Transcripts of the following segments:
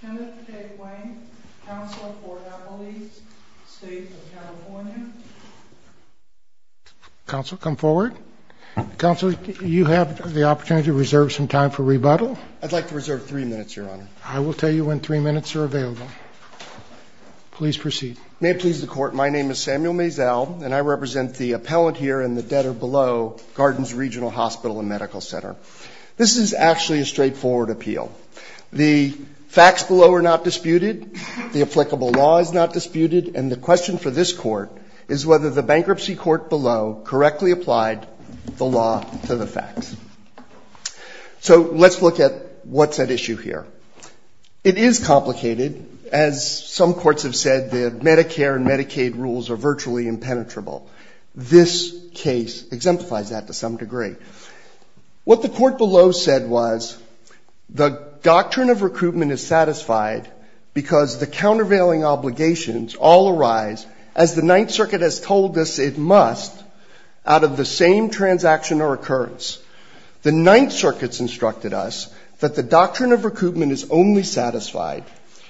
Kenneth Tate-Wayne, Counselor for Appalachia State of California Counsel come forward Counselor you have the opportunity to reserve some time for rebuttal I'd like to reserve three minutes your honor I will tell you when three minutes are available please proceed May it please the court my name is Samuel Maisel and I represent the appellant here in the debtor below Gardens Regional Hospital and Medical Center this is actually a straightforward appeal the facts below are not disputed the applicable law is not disputed and the question for this court is whether the bankruptcy court below correctly applied the law to the facts so let's look at what's at issue here it is complicated as some courts have said that Medicare and Medicaid rules are virtually impenetrable this case exemplifies that to some degree what the court below said was the doctrine of recoupment is satisfied because the countervailing obligations all arise as the Ninth Circuit has told us it must out of the same transaction or occurrence the doctrine of recoupment is only satisfied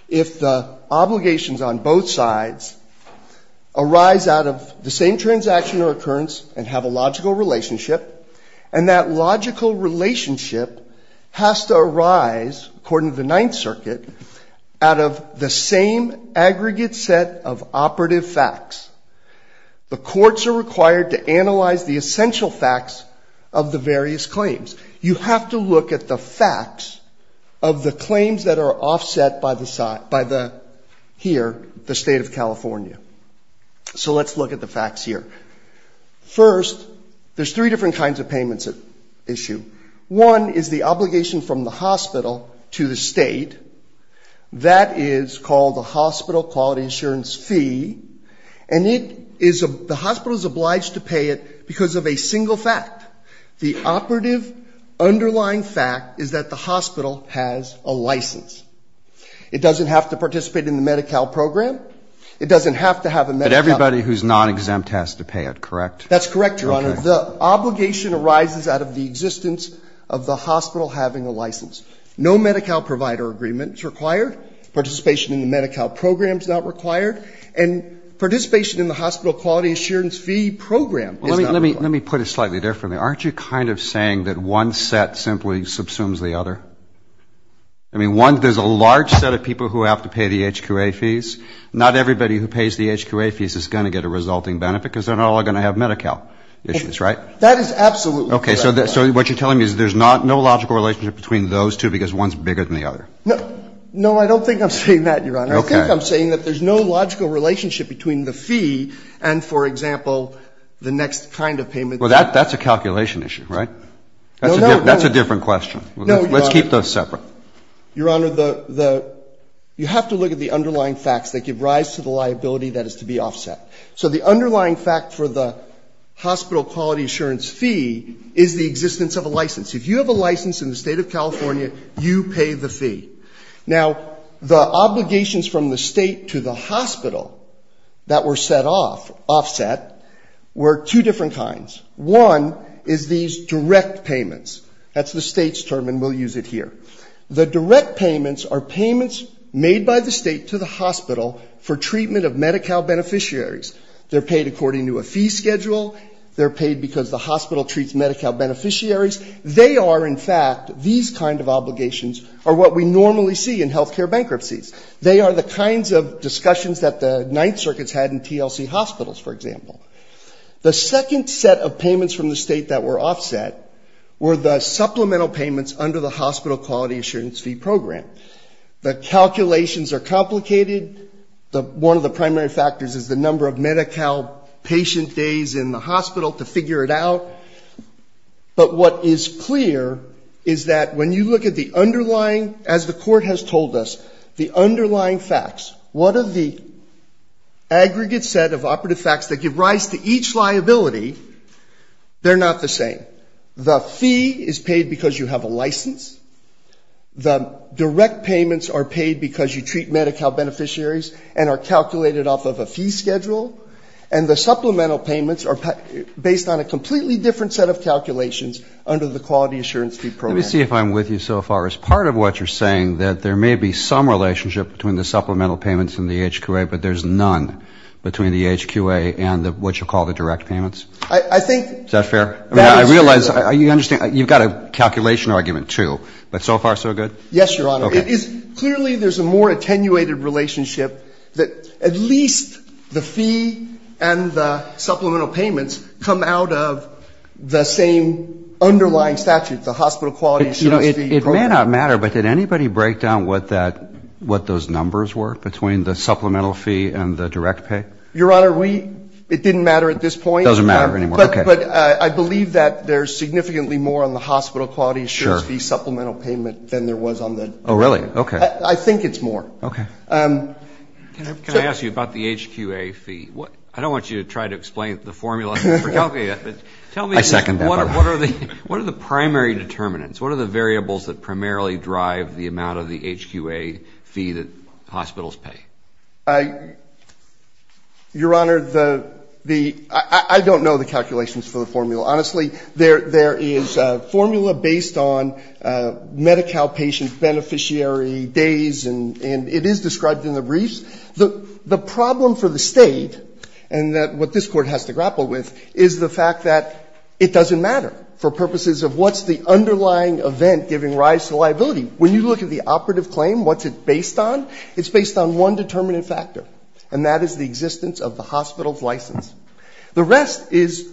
if the obligations on both sides arise out of the same transaction or occurrence and have a logical relationship and that logical relationship has to arise according to the Ninth Circuit out of the same aggregate set of operative facts the courts are required to analyze the essential facts of the various claims you have to look at the facts of the claims that are offset by the side by the here the state of California so let's look at the facts here first there's three different kinds of payments at issue one is the obligation from the hospital to the state that is called the hospital quality insurance fee and it is a the hospital is obliged to pay it because of a single fact the operative underlying fact is that the hospital has a license it doesn't have to participate in the Medi-Cal program it doesn't have to have a Medi-Cal but everybody who's not exempt has to pay it correct that's correct your honor the obligation arises out of the existence of the hospital having a license no Medi-Cal provider agreement is required participation in the Medi-Cal program is not required and participation in the hospital quality insurance fee program let me put it slightly differently aren't you kind of saying that one set simply subsumes the other I mean one there's a large set of people who have to pay the HQA fees not everybody who pays the HQA fees is going to get a resulting benefit because they're not all going to have Medi-Cal issues right that is absolutely okay so that so what you're telling me is there's not no logical relationship between those two because one's bigger than the other no no I don't think I'm saying that your honor I think I'm saying that there's no logical relationship between the fee and for example the next kind of payment well that that's a calculation issue right that's a different question let's keep those separate your honor the the you have to look at the underlying facts that give rise to the liability that is to be offset so the underlying fact for the hospital quality assurance fee is the existence of a license if you have a license in the state of California you pay the fee now the obligations from the state to the hospital that were set off offset were two different kinds one is these direct payments that's the state's term and we'll use it here the direct payments are payments made by the state to the hospital for treatment of Medi-Cal beneficiaries they're paid according to a fee schedule they're in fact these kind of obligations are what we normally see in health care bankruptcies they are the kinds of discussions that the Ninth Circuit's had in TLC hospitals for example the second set of payments from the state that were offset were the supplemental payments under the hospital quality assurance fee program the calculations are complicated the one of the primary factors is the number of Medi-Cal patient days in the hospital to figure it out but what is clear is that when you look at the underlying as the court has told us the underlying facts what are the aggregate set of operative facts that give rise to each liability they're not the same the fee is paid because you have a license the direct payments are paid because you treat Medi-Cal beneficiaries and are calculated off of a fee schedule and the supplemental payments are based on a completely different set of calculations under the quality assurance fee program let me see if I'm with you so far as part of what you're saying that there may be some relationship between the supplemental payments and the HQA but there's none between the HQA and the what you call the direct payments I think is that fair I realize you understand you've got a calculation argument too but so far so good yes your honor it is clearly there's a more attenuated relationship that at least the fee and the supplemental payments come out of the same underlying statute the hospital quality you know it may not matter but did anybody break down what that what those numbers were between the supplemental fee and the direct pay your honor we it didn't matter at this point doesn't matter anymore but but I believe that there's significantly more on the hospital quality sure the supplemental payment than there was on the oh really okay I think it's more okay can I ask you about the HQA fee what I don't want you to try to explain the formula tell me second what are the what are the primary determinants what are the variables that primarily drive the amount of the HQA fee that hospitals pay I your honor the the I don't know the calculations for the formula honestly there there is a formula based on Medi-Cal patient beneficiary days and it is described in the briefs the the problem for the state and that what this court has to grapple with is the fact that it doesn't matter for purposes of what's the underlying event giving rise to liability when you look at the operative claim what's it based on it's based on one determinant factor and that is the existence of the hospital's license the rest is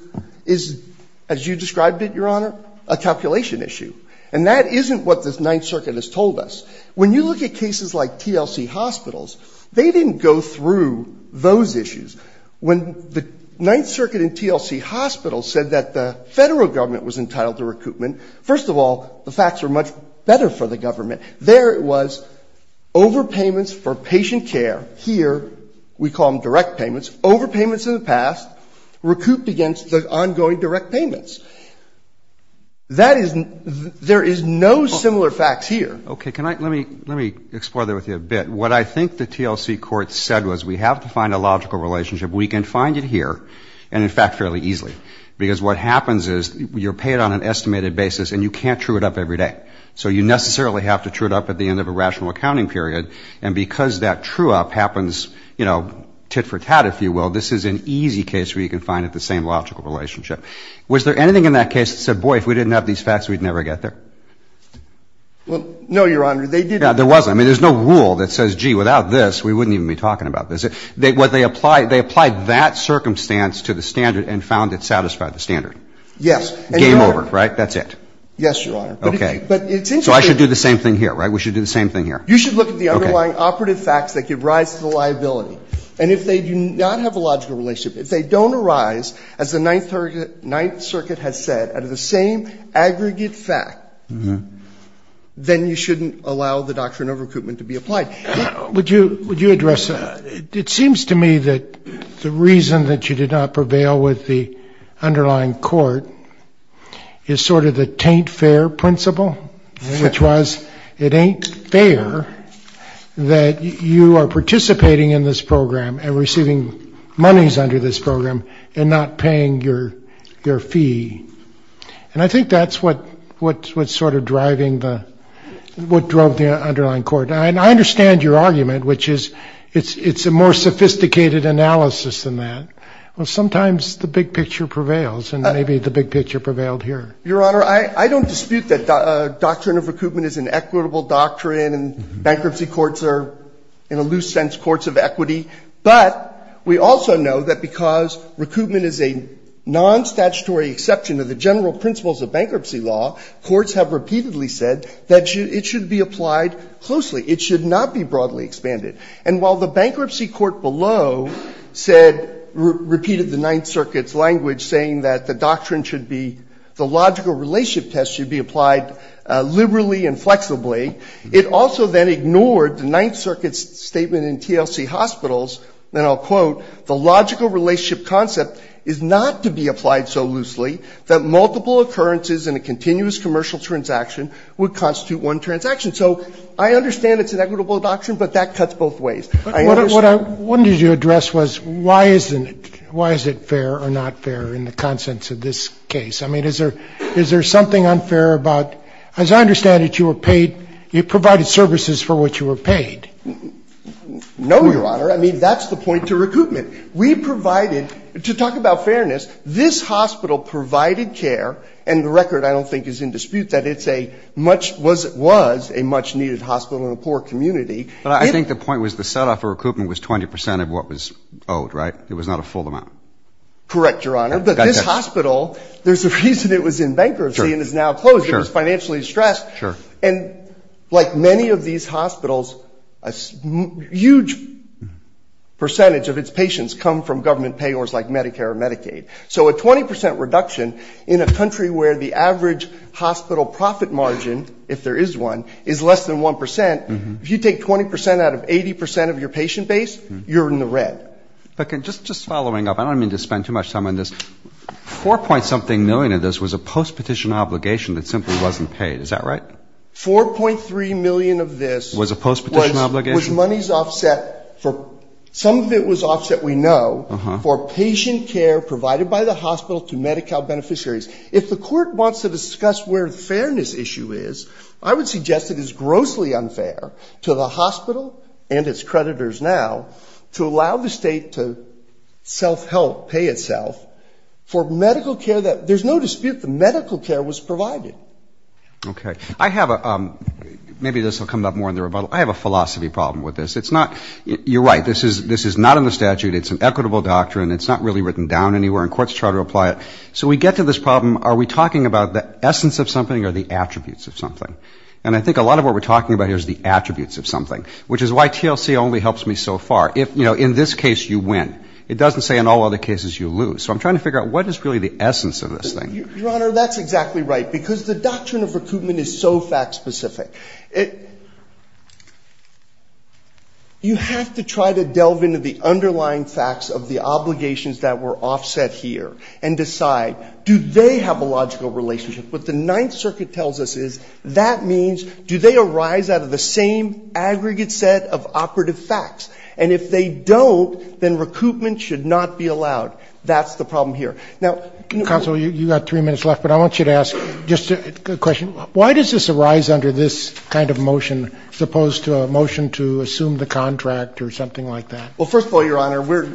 is as you described it your honor a calculation issue and that isn't what this Ninth Circuit has told us when you look at cases like TLC hospitals they didn't go through those issues when the Ninth Circuit in TLC hospitals said that the federal government was entitled to recoupment first of all the facts were much better for the government there it was over payments for patient care here we call them direct payments over payments in the past recouped against the ongoing direct payments that isn't there is no similar facts here okay can I let me let me explore there with you a bit what I think the TLC court said was we have to find a logical relationship we can find it here and in fact fairly easily because what happens is you're paid on an estimated basis and you can't true it up every day so you necessarily have to true it up at the end of a rational accounting period and because that true up happens you know tit-for-tat if you will this is an easy case where you can find it the same logical relationship was there anything in that case that said boy if we didn't have these facts we'd never get there well no your honor they did there wasn't I mean there's no rule that says gee without this we wouldn't even be talking about this it they what they apply they applied that circumstance to the standard and found it satisfied the standard yes game over right that's it yes your honor okay but it's so I should do the same thing here right we should do the same thing here you should look at the underlying operative facts that give rise to the liability and if they do not have a logical relationship if they don't arise as the Ninth Circuit has said out of the same aggregate fact then you shouldn't allow the doctrine of recoupment to be applied would you would you address it seems to me that the reason that you did not prevail with the underlying court is sort of the taint fare principle which was it ain't fair that you are participating in this program and receiving monies under this program and not paying your your fee and I think that's what what's what sort of driving the what drove the underlying court and I understand your argument which is it's it's a more sophisticated analysis than that well sometimes the big picture prevails and maybe the big picture prevailed here your honor I I don't dispute that doctrine of recoupment is an equitable doctrine and bankruptcy courts are in a loose sense courts of equity but we also know that because recoupment is a non-statutory exception to the general principles of bankruptcy law courts have repeatedly said that it should be applied closely it should not be broadly expanded and while the bankruptcy court below said repeated the Ninth Circuit's language saying that the doctrine should be the logical relationship test should be applied liberally and flexibly it also then ignored the Ninth Circuit's statement in TLC hospitals and I'll quote the logical relationship concept is not to be applied so loosely that multiple occurrences in a continuous commercial transaction would constitute one transaction so I understand it's an equitable doctrine but that cuts both ways what I wanted you to address was why isn't it why is it fair or not fair in the consents of this case I mean is there is there something unfair about as I understand it you were paid you provided services for what you were paid no your honor I mean that's the point to recoupment we provided to talk about fairness this hospital provided care and the record I don't think is in dispute that it's a much was it was a much-needed hospital in a poor community but I think the point was the setup for recoupment was 20% of what was owed right it was not a full amount correct your honor but this hospital there's a reason it was in bankruptcy and is now closed it was financially stressed sure and like many of these hospitals a huge percentage of its patients come from government payors like Medicare or Medicaid so a 20% reduction in a country where the average hospital profit margin if there is one is less than 1% if you take 20% out of 80% of your patient base you're in the red okay just just following up I don't mean to spend too much time on this 4 point something million of this was a post petition obligation that simply wasn't paid is that right 4.3 million of this was a post petition obligation was monies offset for some of it was offset we know for patient care provided by the hospital to Medi-Cal beneficiaries if the court wants to discuss where the fairness issue is I would suggest it is grossly unfair to the hospital and its creditors now to allow the state to self-help pay itself for medical care that there's no dispute the medical care was provided okay I have a maybe this will come up more in the rebuttal I have a philosophy problem with this it's not you're right this is this is not in the statute it's an equitable doctrine it's not really written down anywhere in courts try to apply it so we get to this problem are we talking about the essence of something or the attributes of something and I think a lot of what we're talking about here is the attributes of something which is why TLC only helps me so far if you know in this case you win it doesn't say in all other cases you lose so I'm trying to figure out what is really the essence of this thing your honor that's exactly right because the doctrine of recruitment is so fact-specific it you have to try to delve into the underlying facts of the obligations that were offset here and decide do they have a logical relationship with the Ninth Circuit tells us is that means do they arise out of the same aggregate set of operative facts and if they don't then recoupment should not be allowed that's the problem here now counsel you got three minutes left but I want you to ask just a question why does this arise under this kind of motion as opposed to a motion to assume the contract or something like that well first of all your honor we're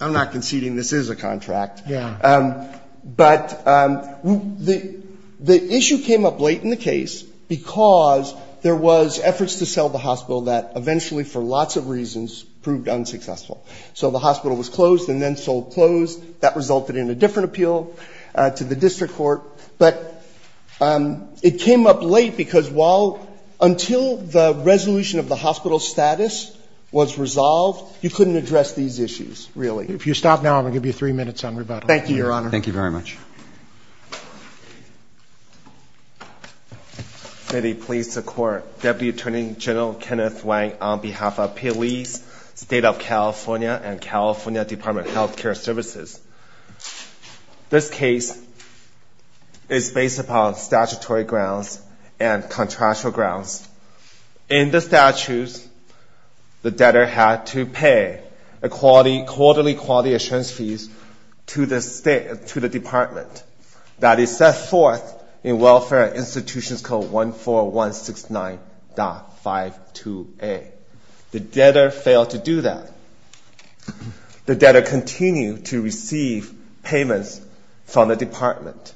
I'm not conceding this is a contract yeah but the the issue came up late in the case because there was efforts to sell the hospital that eventually for lots of reasons proved unsuccessful so the hospital was closed and then sold closed that resulted in a different appeal to the district court but it came up late because while until the resolution of the hospital status was resolved you couldn't address these issues really if you stop now I'm going to give you three minutes on rebuttal thank you your honor thank you very much please support Deputy Attorney General Kenneth Wang on behalf of police state of California and California Department of Health Care Services this case is based upon statutory grounds and contractual grounds in the statutes the debtor had to pay a quality quarterly quality assurance fees to the state to the department that is set forth in welfare institutions code 14169.52a the debtor failed to do that the debtor continued to receive payments from the department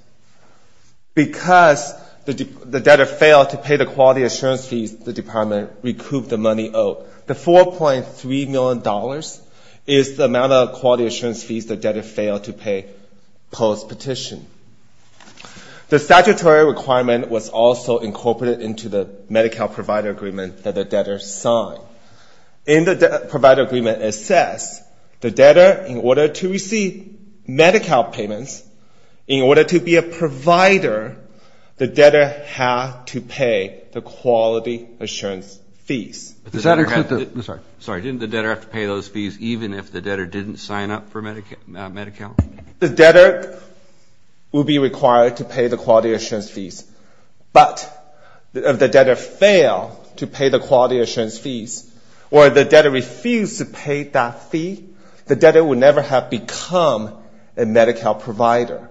because the debtor failed to pay the quality assurance fees the department recouped the money owed the 4.3 million dollars is the amount of quality assurance fees the debtor failed to the statutory requirement was also incorporated into the Medi-Cal provider agreement that the debtor signed in the provider agreement it says the debtor in order to receive Medi-Cal payments in order to be a provider the debtor had to pay the quality assurance fees sorry didn't the debtor have to pay those fees even if the debtor didn't sign up for Medi-Cal? The debtor will be required to pay the quality assurance fees but if the debtor failed to pay the quality assurance fees or the debtor refused to pay that fee the debtor would never have become a Medi-Cal provider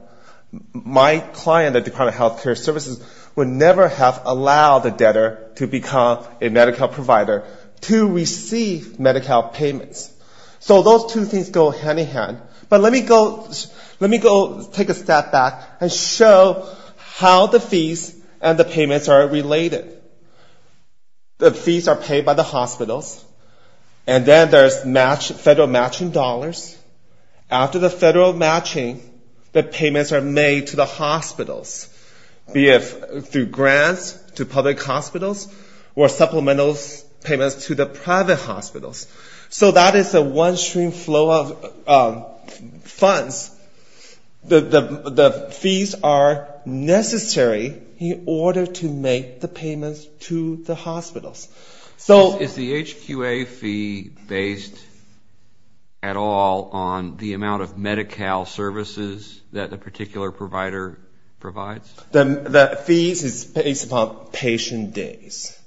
my client at Department of Health Care Services would never have allowed the debtor to become a Medi-Cal provider to receive Medi-Cal payments so those two things go hand in hand but let me go take a step back and show how the fees and the payments are related the fees are paid by the hospitals and then there's federal matching dollars after the federal matching the payments are made to the hospitals be it through grants to public hospitals or supplemental payments to the private hospitals so that is a one stream flow of funds the fees are necessary in order to make the payments to the hospitals. So is the HQA fee based at all on the amount of Medi-Cal services that the particular provider provides? The fees is based upon patient days.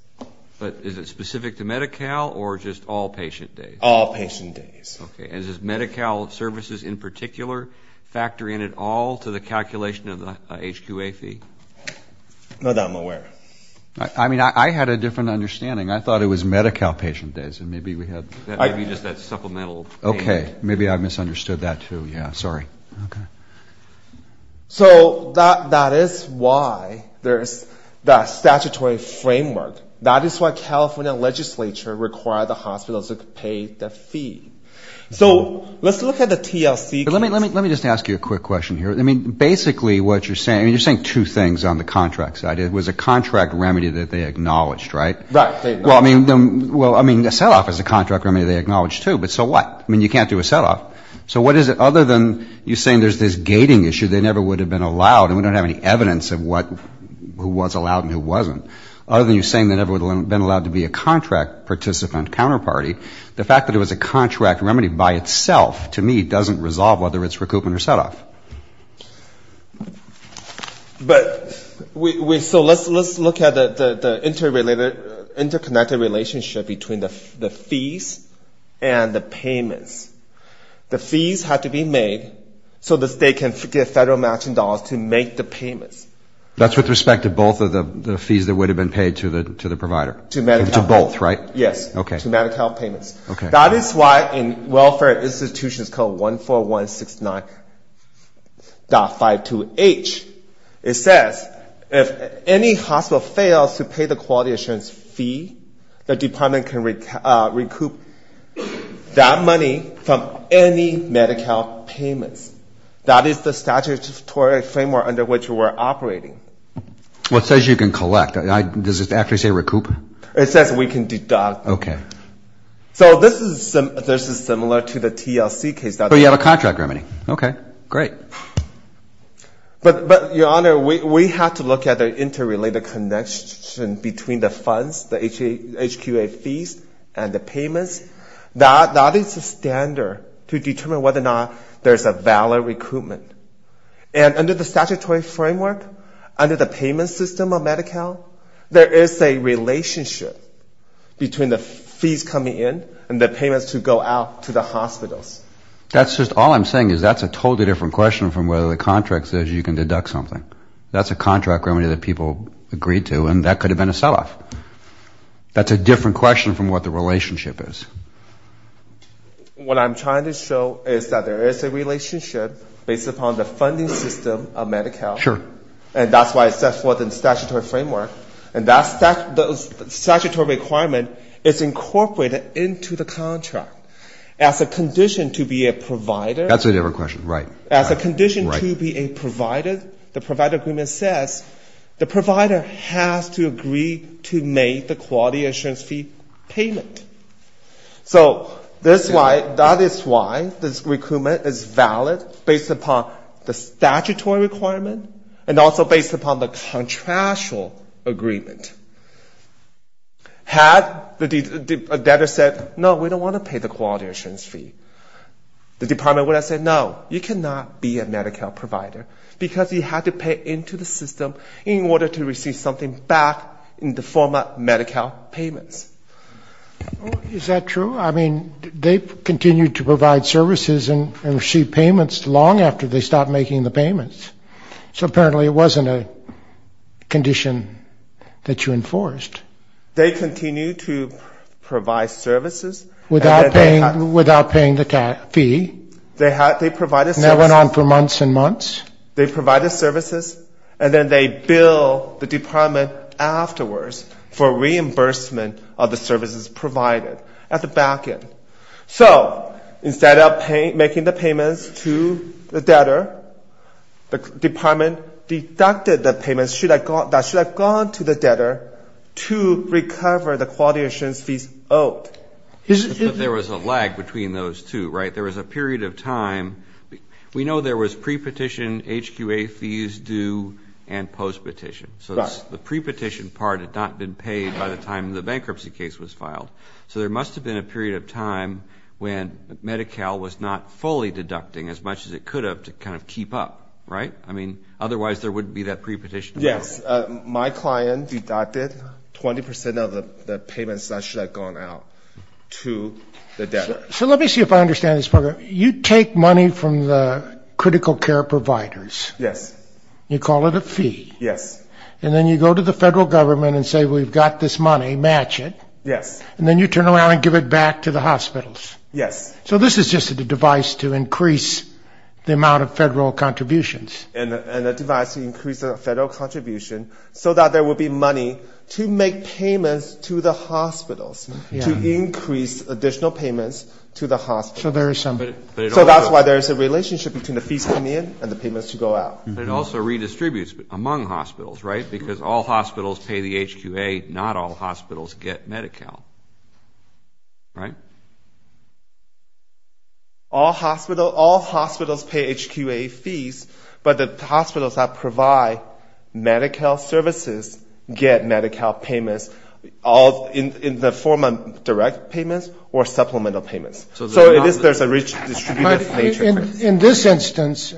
But is it specific to Medi-Cal or just all patient days? All patient days. Okay and does Medi-Cal services in particular factor in at all to the calculation of the HQA fee? Not that I'm aware of. I mean I had a different understanding I thought it was Medi-Cal patient days and maybe we had. Maybe just that supplemental payment. Okay. Maybe I misunderstood that too. Yeah. Sorry. So that is why there's the statutory framework. That is why California legislature require the hospitals to pay the fee. So let's look at the TLC. Let me just ask you a quick question here. I mean basically what you're saying, you're saying two things on the contract side. It was a contract remedy that they acknowledged, right? Right. Well, I mean a set off is a contract remedy they acknowledge too. But so what? I mean you can't do a set off. So what is it other than you're saying there's this gating issue, they never would have been allowed and we don't have any evidence of what, who was allowed and who wasn't. Other than you're saying they never would have been allowed to be a contract participant counterparty, the fact that it was a contract remedy by itself to me doesn't resolve whether it's recoupment or set off. But so let's look at the interconnected relationship between the fees and the payments. The fees have to be made so the state can get federal matching dollars to make the payments. That's with respect to both of the fees that would have been paid to the provider. To MediCal. To both, right? Yes. To MediCal payments. That is why in welfare institutions called 14169.52H, it says if any hospital fails to pay the quality assurance fee, the department can recoup that money from any MediCal payments. That is the statutory framework under which we're operating. Well, it says you can collect. Does it actually say recoup? It says we can deduct. Okay. So this is similar to the TLC case. But you have a contract remedy. Okay. Great. But, Your Honor, we have to look at the interrelated connection between the funds, the HQA fees and the payments. That is a standard to determine whether or not there's a valid recoupment. And under the statutory framework, under the payment system of MediCal, there is a relationship between the fees coming in and the payments to go out to the hospitals. That's just all I'm saying is that's a totally different question from whether the contract says you can deduct something. That's a contract remedy that people agreed to, and that could have been a sell-off. That's a different question from what the relationship is. What I'm trying to show is that there is a relationship based upon the funding system of MediCal. Sure. And that's why it says within the statutory framework. And that statutory requirement is incorporated into the contract. As a condition to be a provider. That's a different question. Right. As a condition to be a provider, the provider agreement says the provider has to agree to make the quality assurance fee payment. So that is why this recoupment is valid based upon the statutory requirement and also based upon the contractual agreement. Had the debtor said, no, we don't want to pay the quality assurance fee, the department would have said, no, you cannot be a MediCal provider because you have to pay into the system in order to receive something back in the form of MediCal payments. Is that true? I mean, they continued to provide services and receive payments long after they stopped making the payments. So apparently it wasn't a condition that you enforced. They continued to provide services. Without paying the fee. They provided services. And that went on for months and months. They provided services. And then they billed the department afterwards for reimbursement of the services provided at the back end. So instead of making the payments to the debtor, the department deducted the payments that should have gone to the debtor to recover the quality assurance fees owed. There was a lag between those two, right? There was a period of time. We know there was pre-petition, HQA fees due, and post-petition. So the pre-petition part had not been paid by the time the bankruptcy case was filed. So there must have been a period of time when MediCal was not fully deducting as much as it could have to kind of keep up, right? I mean, otherwise there wouldn't be that pre-petition. Yes. My client deducted 20 percent of the payments that should have gone out to the debtor. So let me see if I understand this part right. You take money from the critical care providers. Yes. You call it a fee. Yes. And then you go to the federal government and say we've got this money, match it. Yes. And then you turn around and give it back to the hospitals. Yes. So this is just a device to increase the amount of federal contributions. And a device to increase the federal contribution so that there will be money to make payments to the hospitals, to increase additional payments to the hospitals. So there is some. So that's why there is a relationship between the fees coming in and the payments to go out. It also redistributes among hospitals, right, because all hospitals pay the HQA, not all hospitals get MediCal. Right? All hospitals pay HQA fees, but the hospitals that provide MediCal services get MediCal payments. In the form of direct payments or supplemental payments. So there is a redistributive nature. In this instance,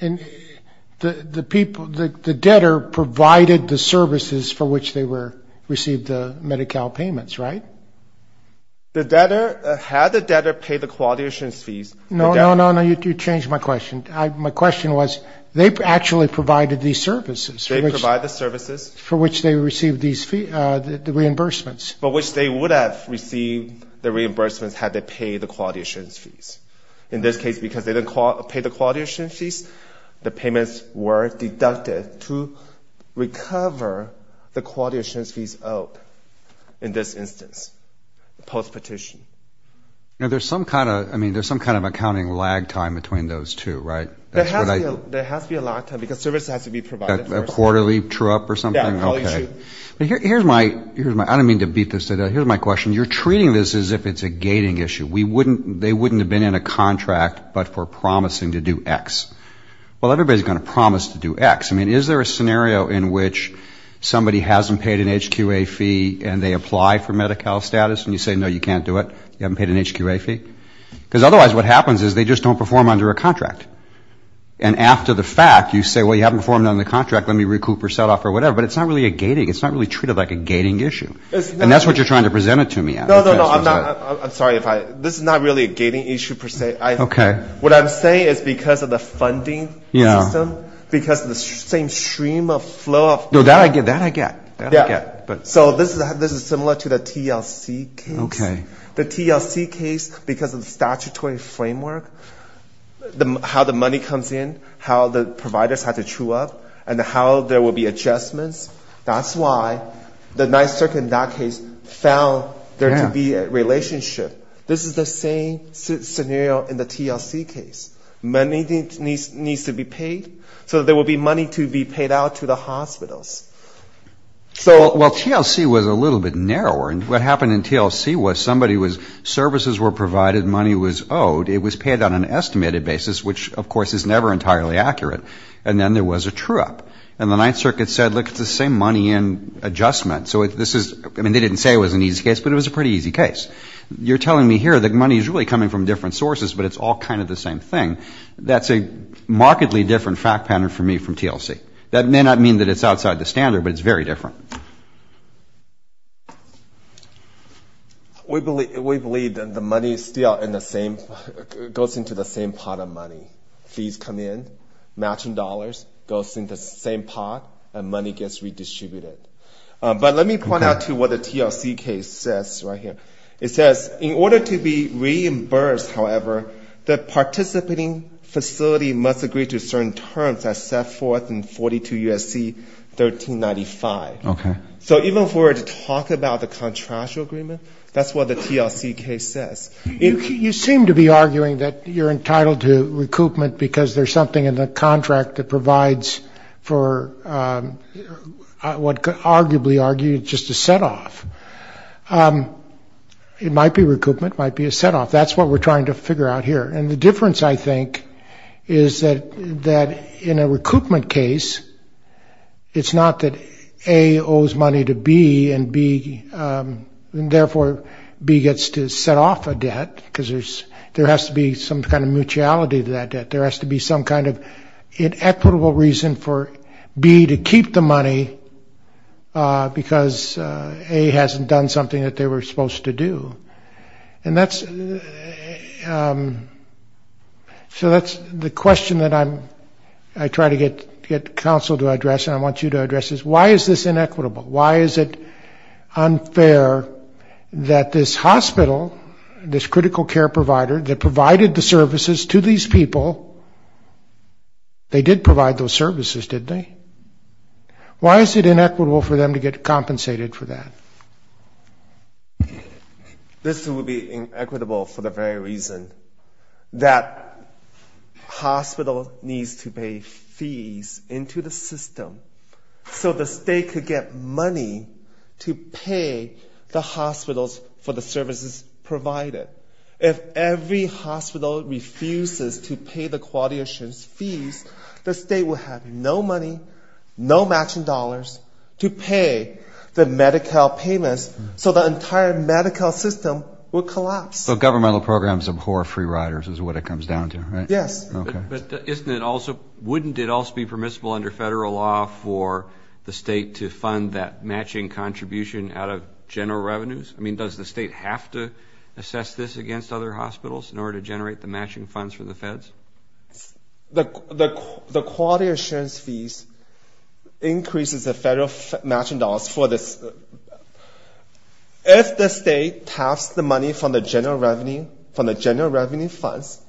the debtor provided the services for which they received the MediCal payments, right? The debtor, had the debtor paid the co-auditions fees. No, no, no, you changed my question. My question was they actually provided these services. They provided the services. For which they received the reimbursements. For which they would have received the reimbursements had they paid the co-auditions fees. In this case, because they didn't pay the co-auditions fees, the payments were deducted to recover the co-auditions fees out. In this instance, post-petition. Now, there's some kind of accounting lag time between those two, right? There has to be a lag time because services have to be provided first. A quarterly trip or something? Yeah, a quarterly trip. Okay. Here's my, I don't mean to beat this to death. Here's my question. You're treating this as if it's a gating issue. They wouldn't have been in a contract but for promising to do X. Well, everybody's going to promise to do X. I mean, is there a scenario in which somebody hasn't paid an HQA fee and they apply for MediCal status and you say, no, you can't do it? You haven't paid an HQA fee? Because otherwise what happens is they just don't perform under a contract. And after the fact, you say, well, you haven't performed under the contract. Let me recoup or set off or whatever. But it's not really a gating. It's not really treated like a gating issue. And that's what you're trying to present it to me as. No, no, no. I'm sorry. This is not really a gating issue per se. What I'm saying is because of the funding system, because of the same stream of flow. That I get. That I get. So this is similar to the TLC case. The TLC case, because of the statutory framework, how the money comes in, how the providers have to chew up, and how there will be adjustments. That's why the Ninth Circuit in that case found there to be a relationship. This is the same scenario in the TLC case. Money needs to be paid so that there will be money to be paid out to the hospitals. So, well, TLC was a little bit narrower. And what happened in TLC was somebody was, services were provided, money was owed. It was paid on an estimated basis, which, of course, is never entirely accurate. And then there was a chew up. And the Ninth Circuit said, look, it's the same money and adjustment. So this is, I mean, they didn't say it was an easy case, but it was a pretty easy case. You're telling me here that money is really coming from different sources, but it's all kind of the same thing. That's a markedly different fact pattern for me from TLC. That may not mean that it's outside the standard, but it's very different. We believe that the money is still in the same, goes into the same pot of money. Fees come in, matching dollars, goes in the same pot, and money gets redistributed. But let me point out, too, what the TLC case says right here. It says, in order to be reimbursed, however, the participating facility must agree to certain terms as set forth in 42 U.S.C. 1395. So even if we were to talk about the contractual agreement, that's what the TLC case says. You seem to be arguing that you're entitled to recoupment because there's something in the contract that provides for what could arguably argue just a set off. It might be recoupment. It might be a set off. That's what we're trying to figure out here. And the difference, I think, is that in a recoupment case, it's not that A owes money to B and, therefore, B gets to set off a debt because there has to be some kind of mutuality to that debt. There has to be some kind of equitable reason for B to keep the money because A hasn't done something that they were supposed to do. And so that's the question that I try to get counsel to address, and I want you to address this. Why is this inequitable? Why is it unfair that this hospital, this critical care provider that provided the services to these people, they did provide those services, didn't they? Why is it inequitable for them to get compensated for that? This would be inequitable for the very reason that hospital needs to pay fees into the system so the state could get money to pay the hospitals for the services provided. If every hospital refuses to pay the quality assurance fees, the state will have no money, no matching dollars to pay the Medi-Cal payments so the entire Medi-Cal system will collapse. So governmental programs abhor free riders is what it comes down to, right? Yes. Okay. But wouldn't it also be permissible under federal law for the state to fund that matching contribution out of general revenues? I mean, does the state have to assess this against other hospitals in order to generate the matching funds for the feds? The quality assurance fees increases the federal matching dollars for this. If the state taps the money from the general revenue funds,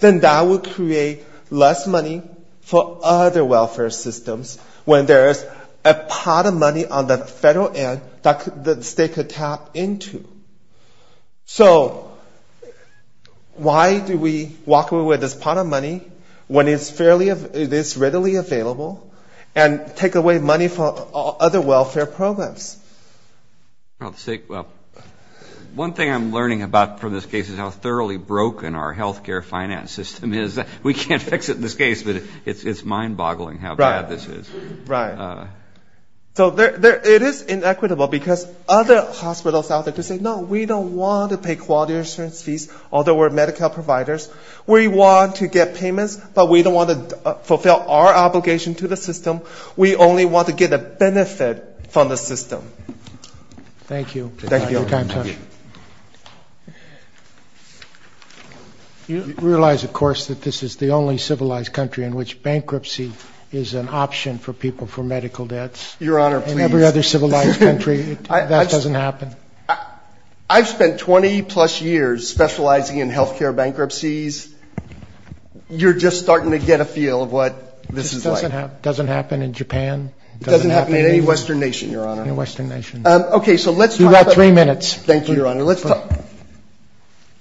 then that would create less money for other welfare systems when there is a pot of money on the federal end that the state could tap into. So why do we walk away with this pot of money when it's readily available and take away money for other welfare programs? One thing I'm learning about from this case is how thoroughly broken our health care finance system is. We can't fix it in this case, but it's mind-boggling how bad this is. Right. So it is inequitable because other hospitals out there just say, no, we don't want to pay quality assurance fees, although we're Medi-Cal providers. We want to get payments, but we don't want to fulfill our obligation to the system. We only want to get a benefit from the system. Thank you. Thank you. You realize, of course, that this is the only civilized country in which bankruptcy is an option for people for medical debts. Your Honor, please. In every other civilized country, that doesn't happen. I've spent 20-plus years specializing in health care bankruptcies. You're just starting to get a feel of what this is like. It doesn't happen in Japan. It doesn't happen in any Western nation, Your Honor. Any Western nation. Okay. You've got three minutes. Thank you, Your Honor.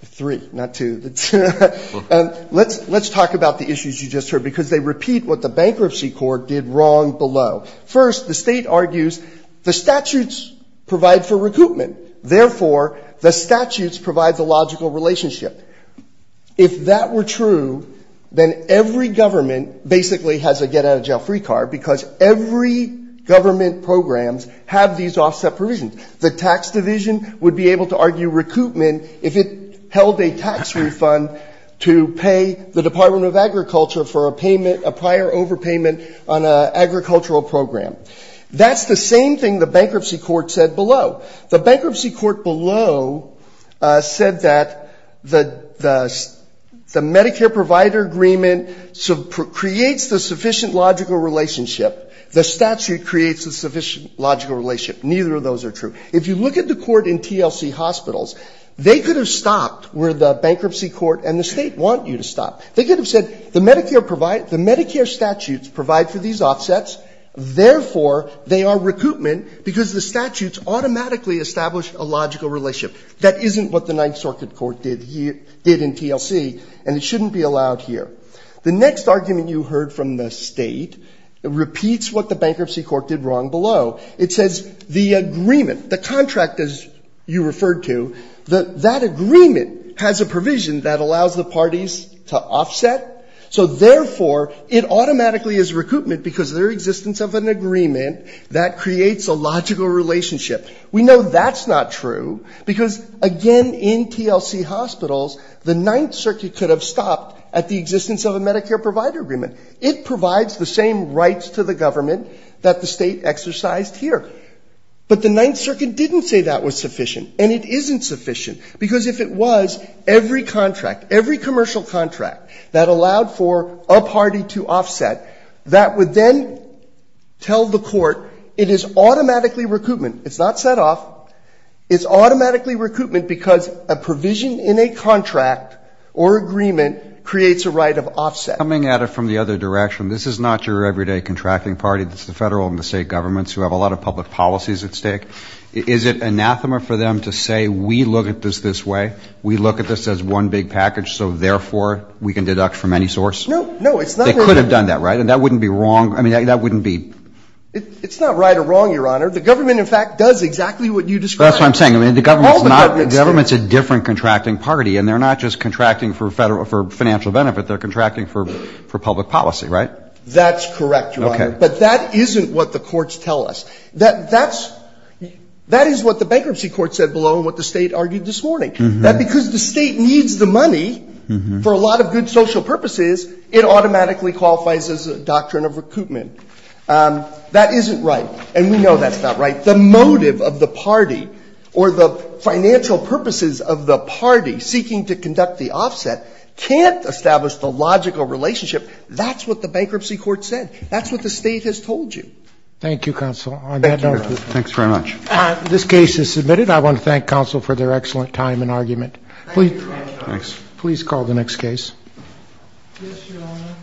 Three, not two. Let's talk about the issues you just heard because they repeat what the bankruptcy court did wrong below. First, the State argues the statutes provide for recoupment. Therefore, the statutes provide the logical relationship. If that were true, then every government basically has a get-out-of-jail-free card because every government program has these offset provisions. The tax division would be able to argue recoupment if it held a tax refund to pay the Department of Agriculture for a payment, a prior overpayment on an agricultural program. That's the same thing the bankruptcy court said below. The bankruptcy court below said that the Medicare provider agreement creates the sufficient logical relationship. The statute creates the sufficient logical relationship. Neither of those are true. If you look at the court in TLC Hospitals, they could have stopped where the bankruptcy court and the State want you to stop. They could have said the Medicare provides, the Medicare statutes provide for these offsets. Therefore, they are recoupment because the statutes automatically establish a logical relationship. That isn't what the Ninth Circuit Court did here, did in TLC, and it shouldn't be allowed here. The next argument you heard from the State repeats what the bankruptcy court did wrong below. It says the agreement, the contract, as you referred to, that that agreement has a provision that allows the parties to offset. So therefore, it automatically is recoupment because of their existence of an agreement that creates a logical relationship. We know that's not true because, again, in TLC Hospitals, the Ninth Circuit could have stopped at the existence of a Medicare provider agreement. It provides the same rights to the government that the State exercised here. But the Ninth Circuit didn't say that was sufficient, and it isn't sufficient because if it was, every contract, every commercial contract that allowed for a party to offset, that would then tell the court it is automatically recoupment. It's not set off. It's automatically recoupment because a provision in a contract or agreement creates a right of offset. Coming at it from the other direction, this is not your everyday contracting party. It's the Federal and the State governments who have a lot of public policies at stake. Is it anathema for them to say, we look at this this way, we look at this as one big package, so therefore, we can deduct from any source? No. No, it's not. They could have done that, right? And that wouldn't be wrong. I mean, that wouldn't be. It's not right or wrong, Your Honor. The government, in fact, does exactly what you described. That's what I'm saying. I mean, the government's not the government's a different contracting party, and they're not just contracting for financial benefit. They're contracting for public policy, right? That's correct, Your Honor. Okay. But that isn't what the courts tell us. That is what the bankruptcy court said below and what the State argued this morning, that because the State needs the money for a lot of good social purposes, it automatically qualifies as a doctrine of recoupment. That isn't right. And we know that's not right. The motive of the party or the financial purposes of the party seeking to conduct the offset can't establish the logical relationship. That's what the bankruptcy court said. That's what the State has told you. Thank you, counsel. Thank you, Your Honor. Thanks very much. This case is submitted. I want to thank counsel for their excellent time and argument. Thank you, Your Honor. Please call the next case. Yes, Your Honor.